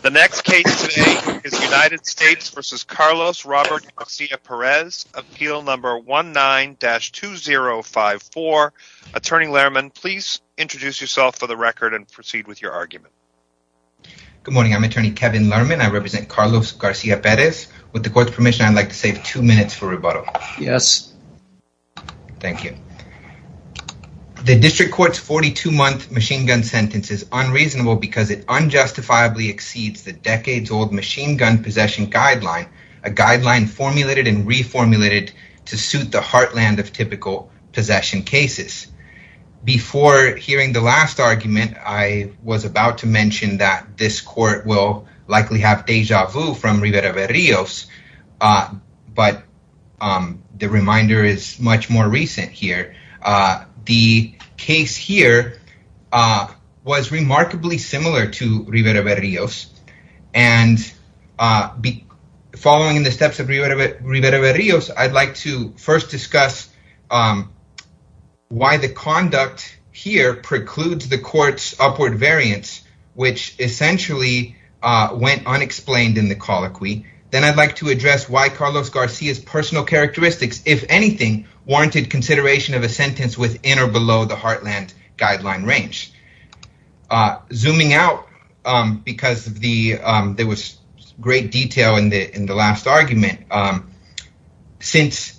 The next case today is United States v. Carlos Robert Garcia-Perez, appeal number 19-2054. Attorney Lerman, please introduce yourself for the record and proceed with your argument. Good morning, I'm attorney Kevin Lerman. I represent Carlos Garcia-Perez. With the court's permission, I'd like to save two minutes for rebuttal. Yes. Thank you. The district court's 42-month machine gun sentence is unreasonable because it unjustifiably exceeds the decades-old machine gun possession guideline, a guideline formulated and reformulated to suit the heartland of typical possession cases. Before hearing the last argument, I was about to mention that this court will likely have deja vu from Rivera-Berrios, but the reminder is much more recent here. The case here was remarkably similar to and following the steps of Rivera-Berrios, I'd like to first discuss why the conduct here precludes the court's upward variance, which essentially went unexplained in the colloquy. Then I'd like to address why Carlos Garcia's personal characteristics, if anything, warranted consideration of a sentence within or below the heartland guideline range. Zooming out, because there was great detail in the last argument, since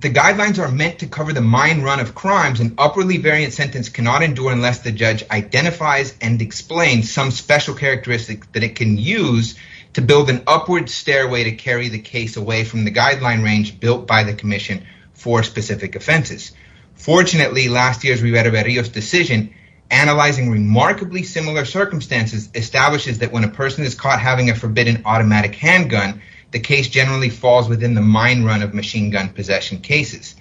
the guidelines are meant to cover the mine run of crimes, an upwardly variant sentence cannot endure unless the judge identifies and explains some special characteristics that it can use to build an upward stairway to carry the case away from the guideline range built by the commission for specific offenses. Fortunately, last year's Rivera-Berrios decision, analyzing remarkably similar circumstances, establishes that when a person is caught having a forbidden automatic handgun, the case generally falls within the mine run of machine gun possession cases.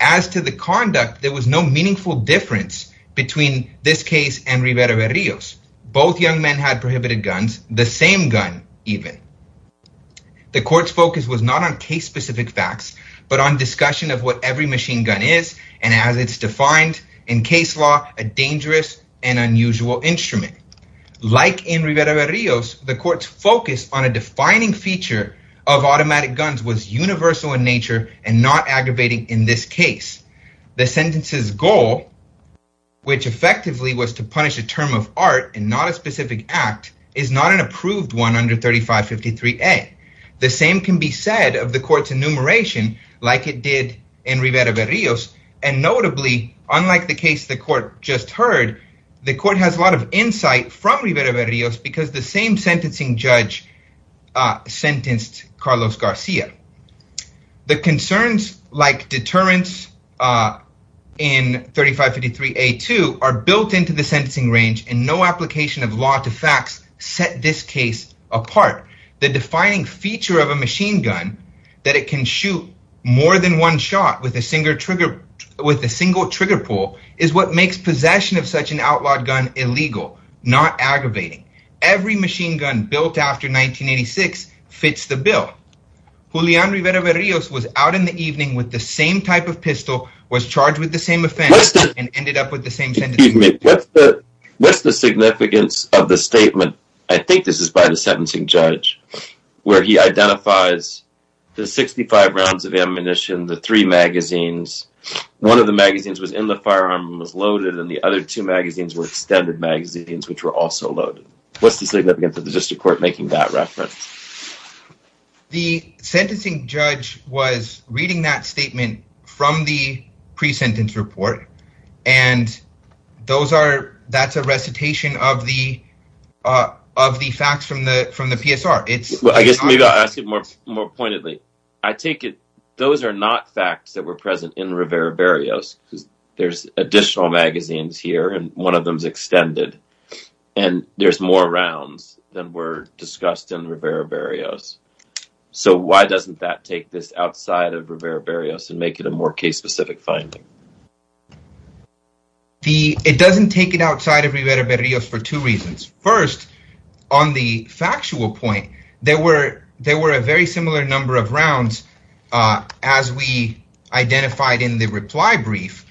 As to the conduct, there was no meaningful difference between this case and Rivera-Berrios. Both young men had prohibited guns, the same gun, even. The court's focus was not on case-specific facts, but on discussion of what every machine gun is, and as it's defined in case law, a dangerous and unusual instrument. Like in Rivera-Berrios, the court's focus on a defining feature of automatic guns was universal in nature and not aggravating in this case. The sentence's goal, which effectively was to punish a term of art and not a specific act, is not an approved one under 3553A. The same can be said of the court's enumeration, like it did in Rivera-Berrios, and notably, unlike the case the court just heard, the court has a lot of insight from Rivera-Berrios because the same sentencing judge sentenced Carlos Garcia. The concerns like deterrence in 3553A2 are built into the set this case apart. The defining feature of a machine gun, that it can shoot more than one shot with a single trigger pull, is what makes possession of such an outlawed gun illegal, not aggravating. Every machine gun built after 1986 fits the bill. Julian Rivera-Berrios was out in the evening with the same type of pistol, was charged with the same offense, and ended up with the same sentence. What's the significance of the statement, I think this is by the sentencing judge, where he identifies the 65 rounds of ammunition, the three magazines, one of the magazines was in the firearm, was loaded, and the other two magazines were extended magazines, which were also loaded. What's the significance of the district court making that reference? The sentencing judge was reading that statement from the pre-sentence report, and that's a recitation of the facts from the PSR. I guess maybe I'll ask it more pointedly. I take it those are not facts that were present in Rivera-Berrios, because there's additional magazines here, and one of them's extended, and there's more rounds than were discussed in Rivera-Berrios. So why doesn't that take this outside of Rivera-Berrios and make it a more case-specific finding? It doesn't take it outside of Rivera-Berrios for two reasons. First, on the factual point, there were a very similar number of rounds as we identified in the reply brief.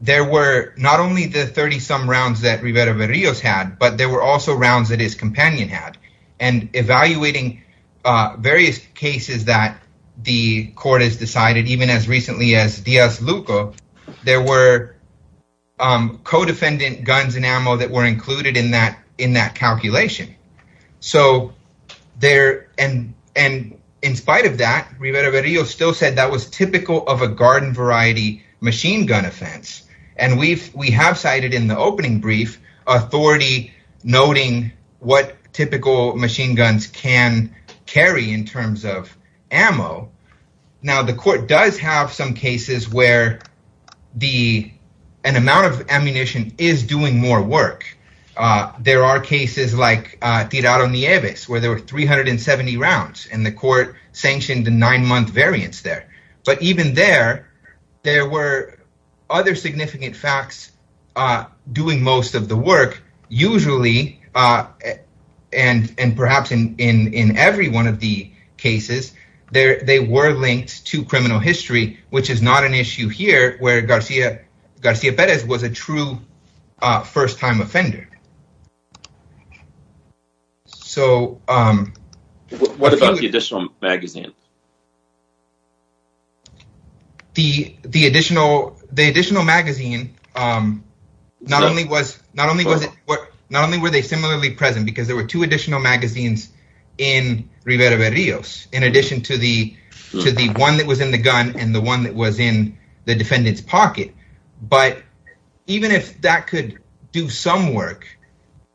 There were not only the 30-some rounds that Rivera-Berrios had, but there were also rounds that his companion had, and evaluating various cases that the court has decided, even as recently as Diaz-Luca, there were co-defendant guns and ammo that were included in that calculation. In spite of that, Rivera-Berrios still said that was typical of a garden-variety machine-gun offense, and we have cited in the opening brief authority noting what typical machine guns can carry in terms of ammo. Now, the court does have some cases where an amount of ammunition is doing more work. There are cases like Tirado-Nieves, where there were other significant facts doing most of the work. Usually, and perhaps in every one of the cases, they were linked to criminal history, which is not an issue here, where Garcia-Perez was a true first-time offender. What about the additional magazine? The additional magazine, not only were they similarly present, because there were two additional magazines in Rivera-Berrios, in addition to the one that was in the gun and the one that was in the defendant's pocket, but even if that could do some work,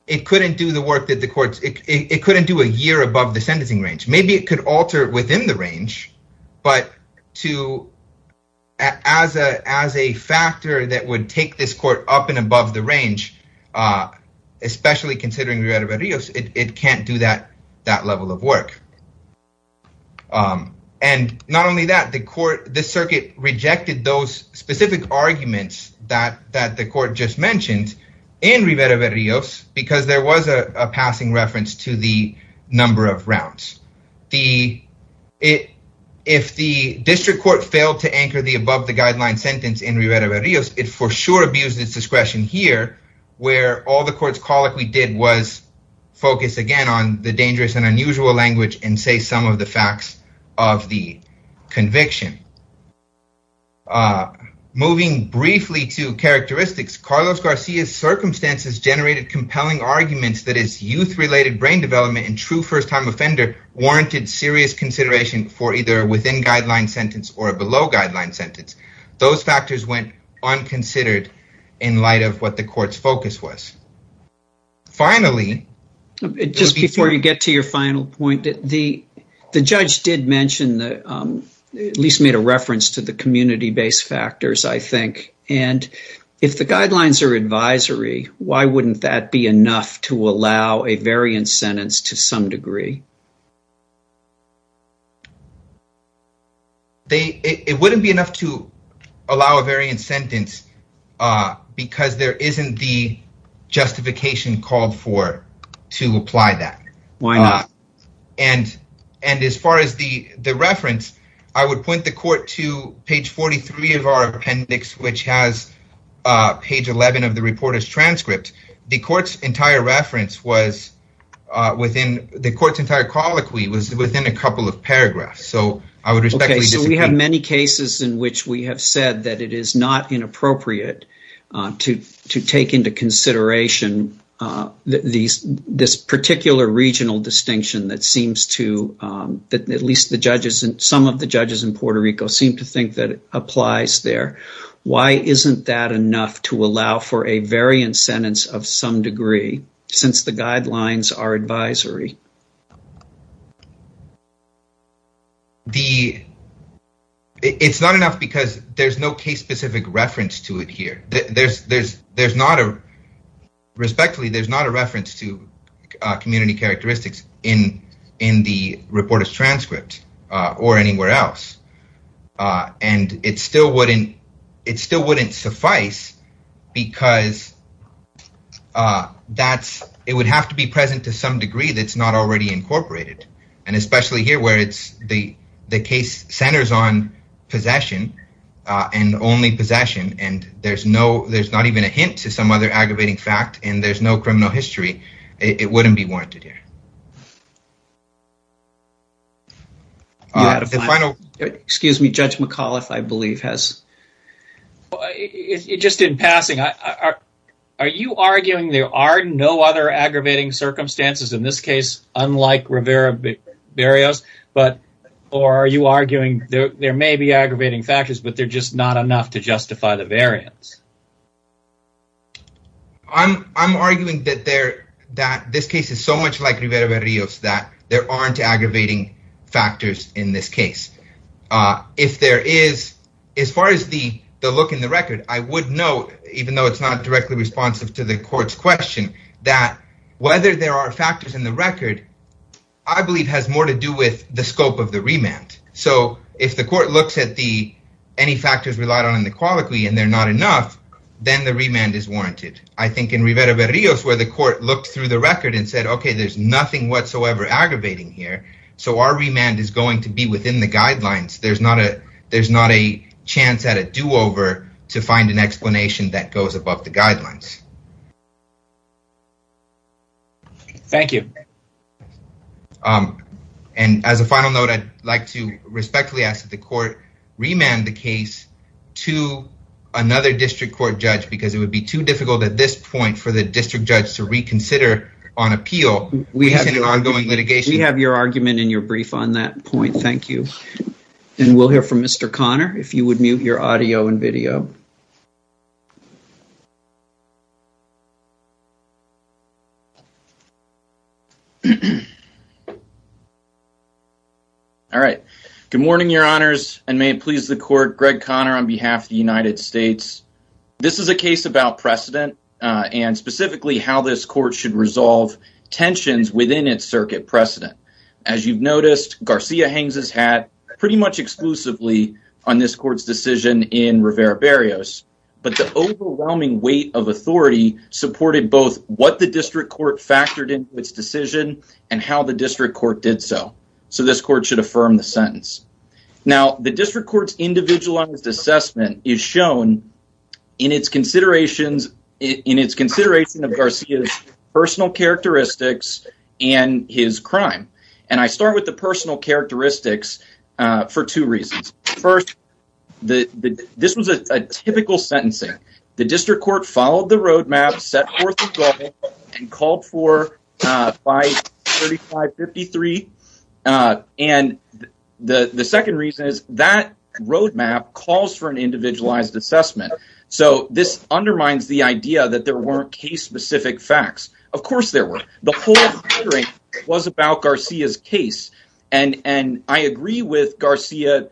it couldn't do the work that the courts, it couldn't do a year above the sentencing range. Maybe it could alter within the range, but as a factor that would take this court up and above the range, especially considering Rivera-Berrios, it can't do that level of work. And not only that, the circuit rejected those specific arguments that the court just mentioned in Rivera-Berrios because there was a passing reference to the number of rounds. If the district court failed to anchor the above-the-guideline sentence in Rivera-Berrios, it for sure abused its discretion here, where all the courts colloquially did was focus again on the dangerous and unusual language and say some of the facts of the conviction. Moving briefly to characteristics, Carlos Garcia's circumstances generated compelling arguments that his youth-related brain development and true first-time offender warranted serious consideration for either a within-guideline sentence or a below-guideline sentence. Those factors went unconsidered in light of what the court's focus was. Finally... Just before you get to your final point, the judge did mention, at least made a reference to the community-based factors, I think, and if the guidelines are advisory, why wouldn't that be enough to allow a variant sentence to some degree? It wouldn't be enough to allow a variant sentence because there isn't the justification called for to apply that. Why not? And as far as the reference, I would point the court to page 43 of our appendix, which has page 11 of the reporter's transcript. The court's entire reference was within... The court's entire colloquy was within a couple of paragraphs, so I would respectfully disagree. Okay, so we have many cases in which we have said that it is not inappropriate to take into consideration this particular regional distinction that seems to, at least some of the judges in Puerto Rico, seem to think that it applies there. Why isn't that enough to allow for a variant sentence of some degree, since the guidelines are advisory? It's not enough because there's no case-specific reference to it here. Respectfully, there's not a reference to community characteristics in the reporter's transcript or anywhere else. And it still wouldn't suffice because it would have to be present to some degree that's not already incorporated. And especially here, where the case centers on possession and only possession, and there's not even a hint to some other aggravating fact, and there's no criminal history, it wouldn't be warranted here. Excuse me, Judge McAuliffe, I believe, has... Just in passing, are you arguing there are no other aggravating circumstances, in this case, unlike Rivera-Barrios, or are you arguing there may be aggravating factors, but they're just not enough to justify the variants? I'm arguing that this case is so much like Rivera-Barrios, that there aren't aggravating factors in this case. If there is, as far as the look in the record, I would note, even though it's not directly responsive to the court's question, that whether there are factors in the record, I believe, has more to do with the scope of the remand. So, if the court looks at any factors relied on in the colloquy and they're not enough, then the remand is warranted. I think in Rivera-Barrios, where the court looked through the record and said, there's nothing whatsoever aggravating here, so our remand is going to be within the guidelines. There's not a chance at a do-over to find an explanation that goes above the guidelines. Thank you. And as a final note, I'd like to respectfully ask that the court remand the case to another district court judge, because it would be too difficult, at this point, for the district judge to reconsider on appeal. We have your argument in your brief on that point. Thank you. And we'll hear from Mr. Conner, if you would mute your audio and video. All right. Good morning, your honors, and may it please the court. Greg Conner on behalf of the United States. This is a case about precedent and specifically how this court should resolve tensions within its circuit precedent. As you've noticed, Garcia hangs his hat pretty much exclusively on this court's decision in Rivera-Barrios. But the overwhelming weight of authority supported both what the district court factored into its decision and how the district court did so. So this court should affirm the sentence. Now, the district court's individualized assessment is shown in its consideration of Garcia's personal characteristics and his crime. And I start with the personal characteristics for two reasons. First, this was a typical sentencing. The district court followed the roadmap, set forth a goal, and called for 535-53. And the second reason is that roadmap calls for an individualized assessment. So this undermines the idea that there weren't case-specific facts. Of course there were. The whole hearing was about Garcia's case. And I agree with Garcia,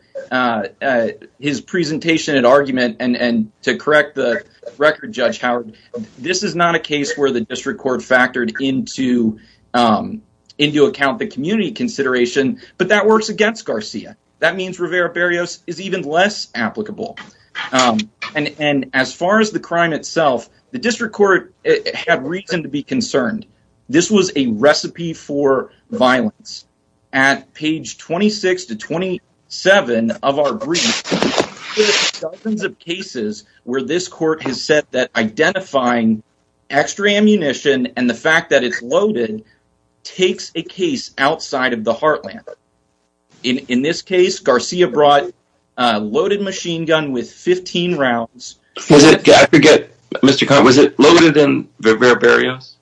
his presentation and argument. And to correct the record, Judge Howard, this is not a case where the district court factored into account the community consideration, but that works against Garcia. That means Rivera-Barrios is even less applicable. And as far as the crime itself, the district court had reason to be concerned. This was a recipe for violence. At page 26 to 27 of our brief, there are dozens of cases where this court has said that identifying extra ammunition and the fact that it's loaded takes a case outside of the heartland. In this case, Garcia brought a loaded machine gun with 15 rounds. Was it loaded in Rivera-Barrios?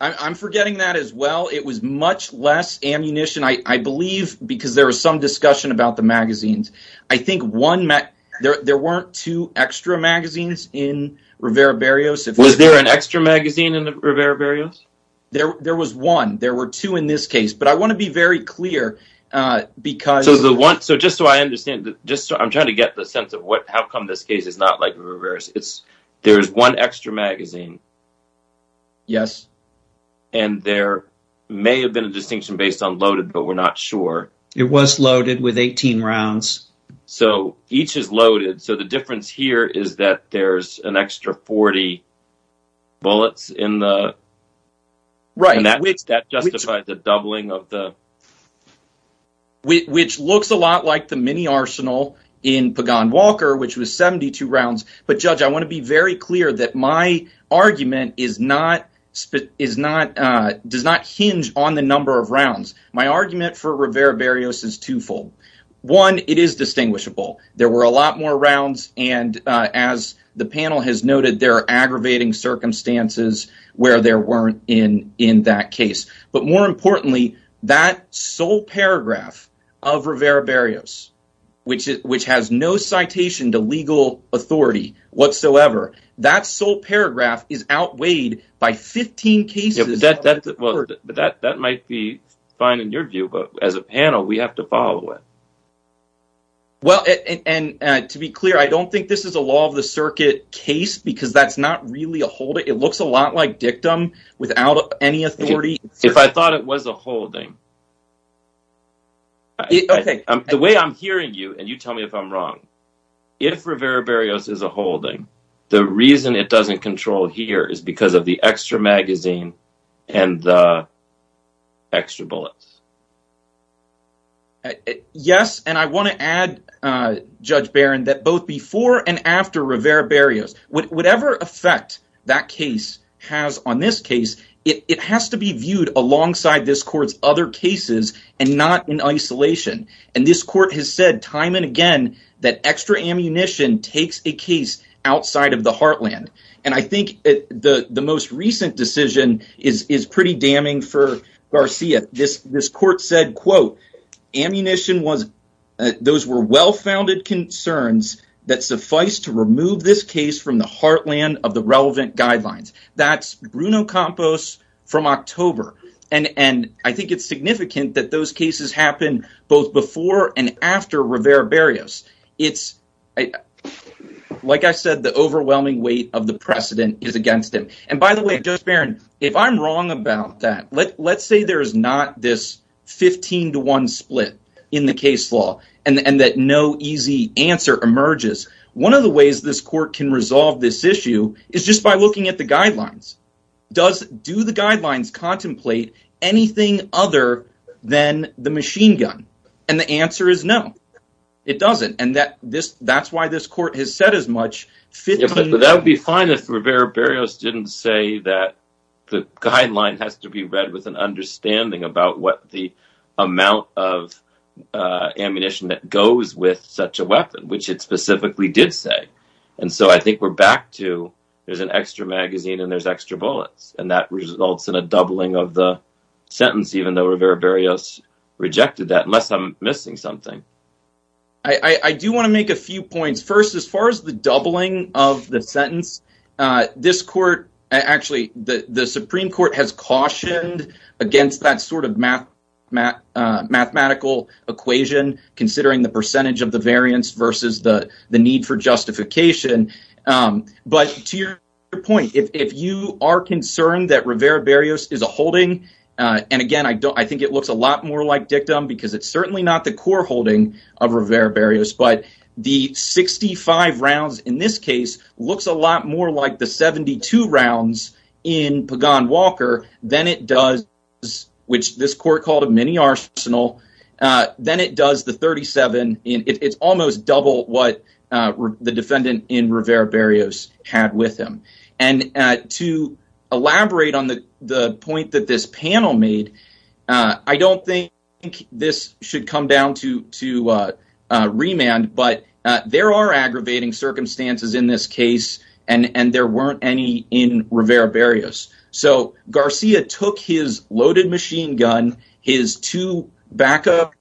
I'm forgetting that as well. It was much less ammunition, I believe, because there was some discussion about the magazines. I think there weren't two extra magazines in Rivera-Barrios. Was there an extra magazine in Rivera-Barrios? There was one. There were two in this case. But I want to be very clear. So just so I understand, I'm trying to get the sense of how come this case is not like Rivera-Barrios. There's one extra magazine. Yes. And there may have been a distinction based on loaded, but we're not sure. It was loaded with 18 rounds. So each is loaded. So the difference here is that there's an extra 40 bullets in the... Right. And that justifies the doubling of the... Which looks a lot like the mini arsenal in Pagan-Walker, which was 72 rounds. But Judge, I want to be very clear that my argument does not hinge on the number of rounds. My argument for Rivera-Barrios is twofold. One, it is distinguishable. There were a lot more rounds. And as the panel has noted, there are aggravating circumstances where there weren't in that case. But more importantly, that sole paragraph of Rivera-Barrios, which has no citation to legal authority whatsoever, that sole paragraph is outweighed by 15 cases. But that might be fine in your view, but as a panel, we have to follow it. Well, and to be clear, I don't think this is a law of the circuit case because that's not really a holding. It looks a lot like dictum without any authority. If I thought it was a holding... The way I'm hearing you, and you tell me if I'm wrong, if Rivera-Barrios is a holding, the reason it doesn't control here is because of the extra magazine and the extra bullets. Yes, and I want to add, Judge Barron, that both before and after Rivera-Barrios, whatever effect that case has on this case, it has to be viewed alongside this court's other cases and not in isolation. And this court has said time and again that extra ammunition takes a case outside of the heartland. And I think the most recent decision is pretty damning for Garcia. This court said, quote, those were well-founded concerns that suffice to remove this case from the heartland of the relevant guidelines. That's Bruno Campos from October. And I think it's significant that those cases happen both before and after Rivera-Barrios. Like I said, the overwhelming weight of the precedent is against him. And by the way, Judge Barron, if I'm wrong about that, let's say there is not this 15 to 1 split in the case law and that no easy answer emerges. One of the ways this court can resolve this issue is just by looking at the guidelines. Do the guidelines contemplate anything other than the machine gun? And the answer is no, it doesn't. And that's why this court has said as much. But that would be fine if Rivera-Barrios didn't say that the guideline has to be read with an understanding about what the amount of ammunition that goes with such a weapon, which it specifically did say. And so I think we're back to there's an extra magazine and there's extra bullets. And that results in a doubling of the sentence, even though Rivera-Barrios rejected that, unless I'm missing something. I do want to make a few points. First, as far as the doubling of the sentence, this court, actually, the Supreme Court has cautioned against that sort of mathematical equation, considering the percentage of the justification. But to your point, if you are concerned that Rivera-Barrios is a holding, and again, I think it looks a lot more like dictum because it's certainly not the core holding of Rivera-Barrios. But the 65 rounds in this case looks a lot more like the 72 rounds in Pagan-Walker than it does, which this court called a mini arsenal. Then it does the 37. It's almost double what the defendant in Rivera-Barrios had with him. And to elaborate on the point that this panel made, I don't think this should come down to remand, but there are aggravating circumstances in this case and there weren't any in Rivera-Barrios. So, Garcia took his loaded machine gun, his two backup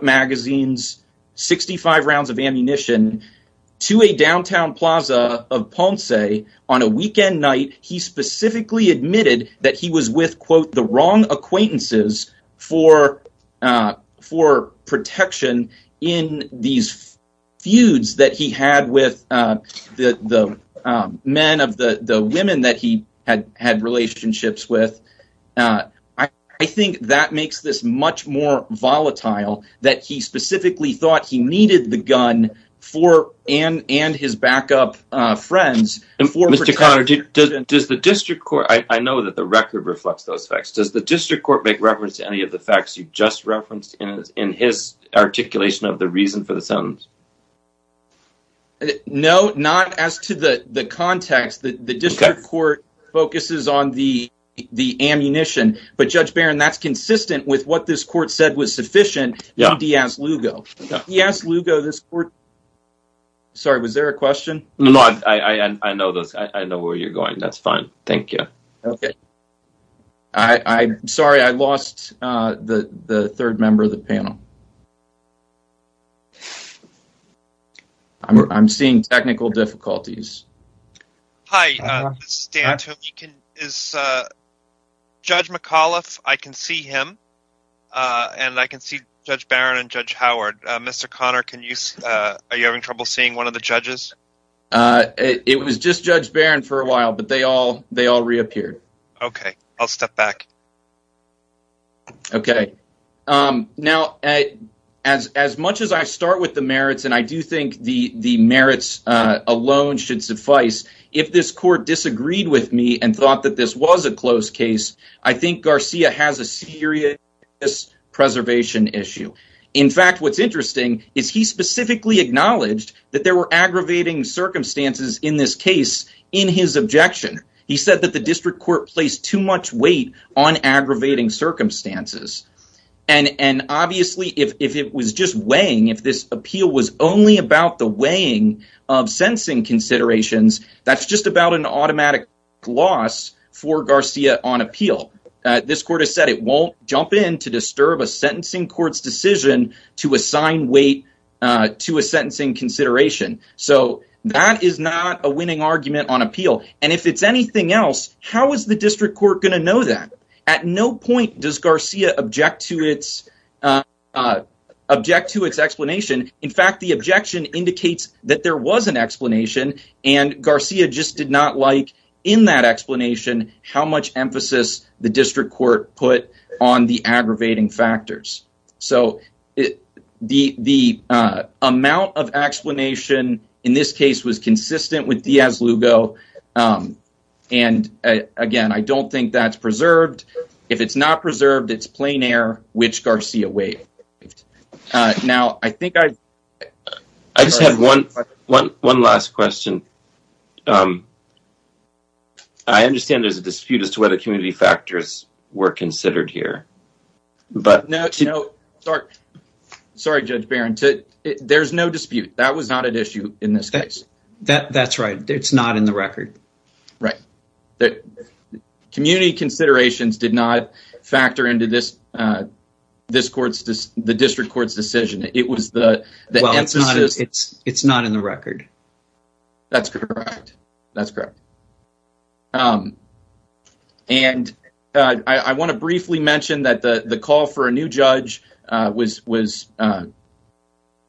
magazines, 65 rounds of ammunition to a downtown plaza of Ponce on a weekend night. He specifically admitted that he was with, quote, the wrong acquaintances for protection in these feuds that he had with the men of the women that he had had relationships with. I think that makes this much more volatile that he specifically thought he needed the gun for and his backup friends. Mr. Connor, I know that the record reflects those facts. Does the district court make reference to any of the facts you just referenced in his articulation of the reason for the sentence? No, not as to the context. The district court focuses on the ammunition. But Judge Barron, that's consistent with what this court said was sufficient in Diaz-Lugo. Sorry, was there a question? I know where you're going. That's fine. Thank you. I'm sorry, I lost the third member of the panel. I'm seeing technical difficulties. Hi, this is Dan. Judge McAuliffe, I can see him and I can see Judge Barron and Judge Howard. Mr. Connor, are you having trouble seeing one of the judges? It was just Judge Barron for a while, but they all reappeared. OK, I'll step back. OK, now, as much as I start with the merits, and I do think the merits alone should suffice, if this court disagreed with me and thought that this was a close case, I think Garcia has a serious preservation issue. In fact, what's interesting is he specifically acknowledged that there were aggravating circumstances in this case in his objection. He said that the district court placed too much weight on aggravating circumstances. And obviously, if it was just weighing, if this appeal was only about the weighing of sentencing considerations, that's just about an automatic loss for Garcia on appeal. This court has said it won't jump in to disturb a sentencing court's decision to assign weight to a sentencing consideration. So that is not a winning argument on appeal. And if it's anything else, how is the district court going to know that? At no point does Garcia object to its explanation. In fact, the objection indicates that there was an explanation, and Garcia just did not like in that explanation how much emphasis the district court put on the aggravating factors. So the amount of explanation in this case was consistent with Diaz-Lugo. And again, I don't think that's preserved. If it's not preserved, it's plain air which Garcia weighed. Now, I think I just have one last question. I understand there's a dispute as to whether community factors were considered here. No, sorry, Judge Barron. There's no dispute. That was not an issue in this case. That's right. It's not in the record. Right. Community considerations did not factor into the district court's decision. It was the emphasis. It's not in the record. That's correct. That's correct. And I want to briefly mention that the call for a new judge was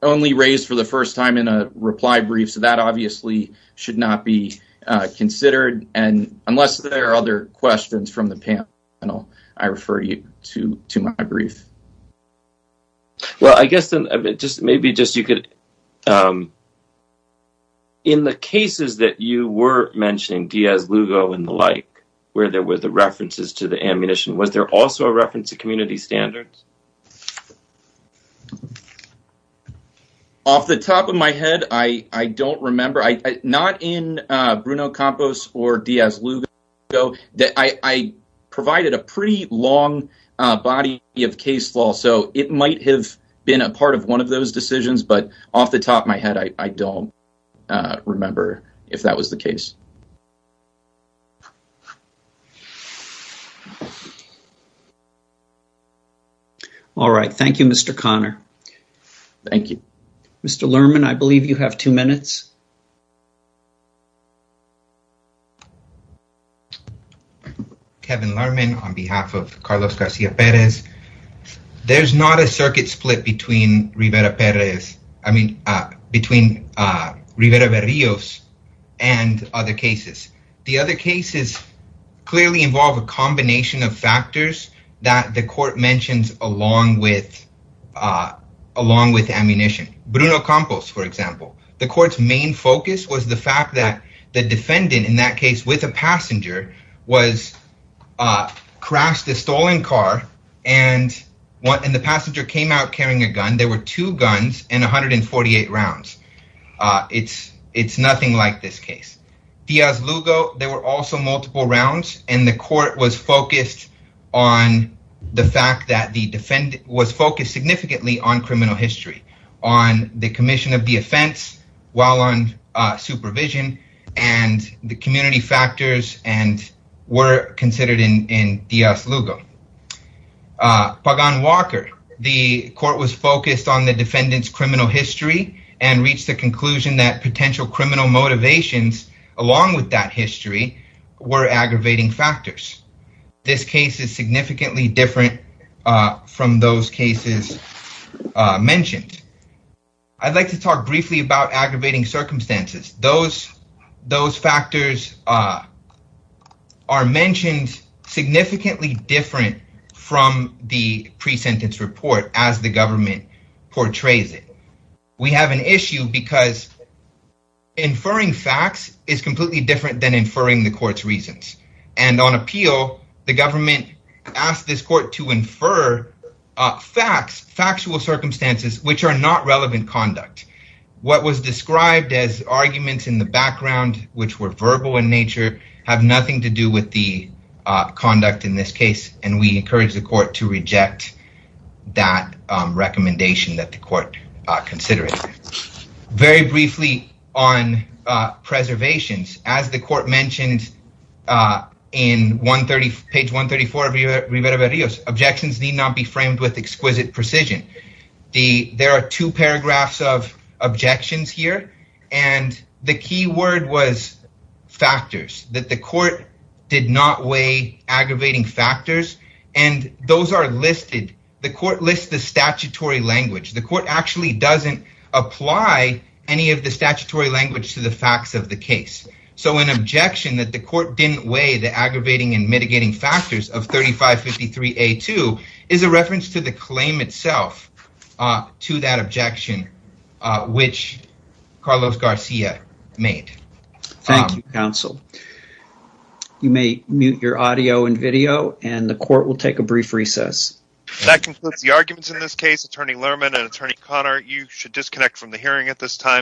only raised for the first time in a reply brief. So that obviously should not be considered. And unless there are other questions from the panel, I refer you to my brief. Well, I guess then maybe just you could, in the cases that you were mentioning, Diaz-Lugo and the like, where there were the references to the ammunition, was there also a reference to community standards? Off the top of my head, I don't remember. I'm not in Bruno Campos or Diaz-Lugo. I provided a pretty long body of case law. So it might have been a part of one of those decisions. But off the top of my head, I don't remember if that was the case. All right. Thank you, Mr. Conner. Thank you. Mr. Lerman, I believe you have two minutes. Kevin Lerman, on behalf of Carlos Garcia Perez. There's not a circuit split between Rivera-Perez, I mean, between Rivera-Berrios and other cases. The other cases clearly involve a combination of factors that the court mentions along with ammunition. Bruno Campos, for example. The court's main focus was the fact that the defendant in that case, with a passenger, crashed a stolen car and the passenger came out carrying a gun. There were two guns and 148 rounds. It's nothing like this case. Diaz-Lugo, there were also multiple rounds. And the court was focused on the fact that the defendant was focused significantly on criminal history, on the commission of the offense, while on supervision and the community factors and were considered in Diaz-Lugo. Pagan-Walker, the court was focused on the defendant's criminal history and reached the conclusion that potential criminal motivations, along with that history, were aggravating factors. This case is significantly different from those cases mentioned. I'd like to talk briefly about aggravating circumstances. Those factors are mentioned significantly different from the pre-sentence report as the government portrays it. We have an issue because inferring facts is completely different than inferring the court's reasons. And on appeal, the government asked this court to infer facts, factual circumstances, which are not relevant conduct. What was described as arguments in the background, which were verbal in nature, have nothing to do with the conduct in this case. And we encourage the court to reject that recommendation that the court considered. Very briefly on preservations. As the court mentioned in page 134 of Rivera-Varillas, objections need not be framed with exquisite precision. There are two paragraphs of objections here. And the key word was factors, that the court did not weigh aggravating factors. And those are listed. The court lists the statutory language. The court actually doesn't apply any of the statutory language to the facts of the case. So an objection that the court didn't weigh the aggravating and mitigating factors of 3553A2 is a reference to the claim itself to that objection, which Carlos Garcia made. Thank you, counsel. You may mute your audio and video, and the court will take a brief recess. That concludes the arguments in this case. Attorney Lerman and Attorney Connor, you should disconnect from the hearing at this time.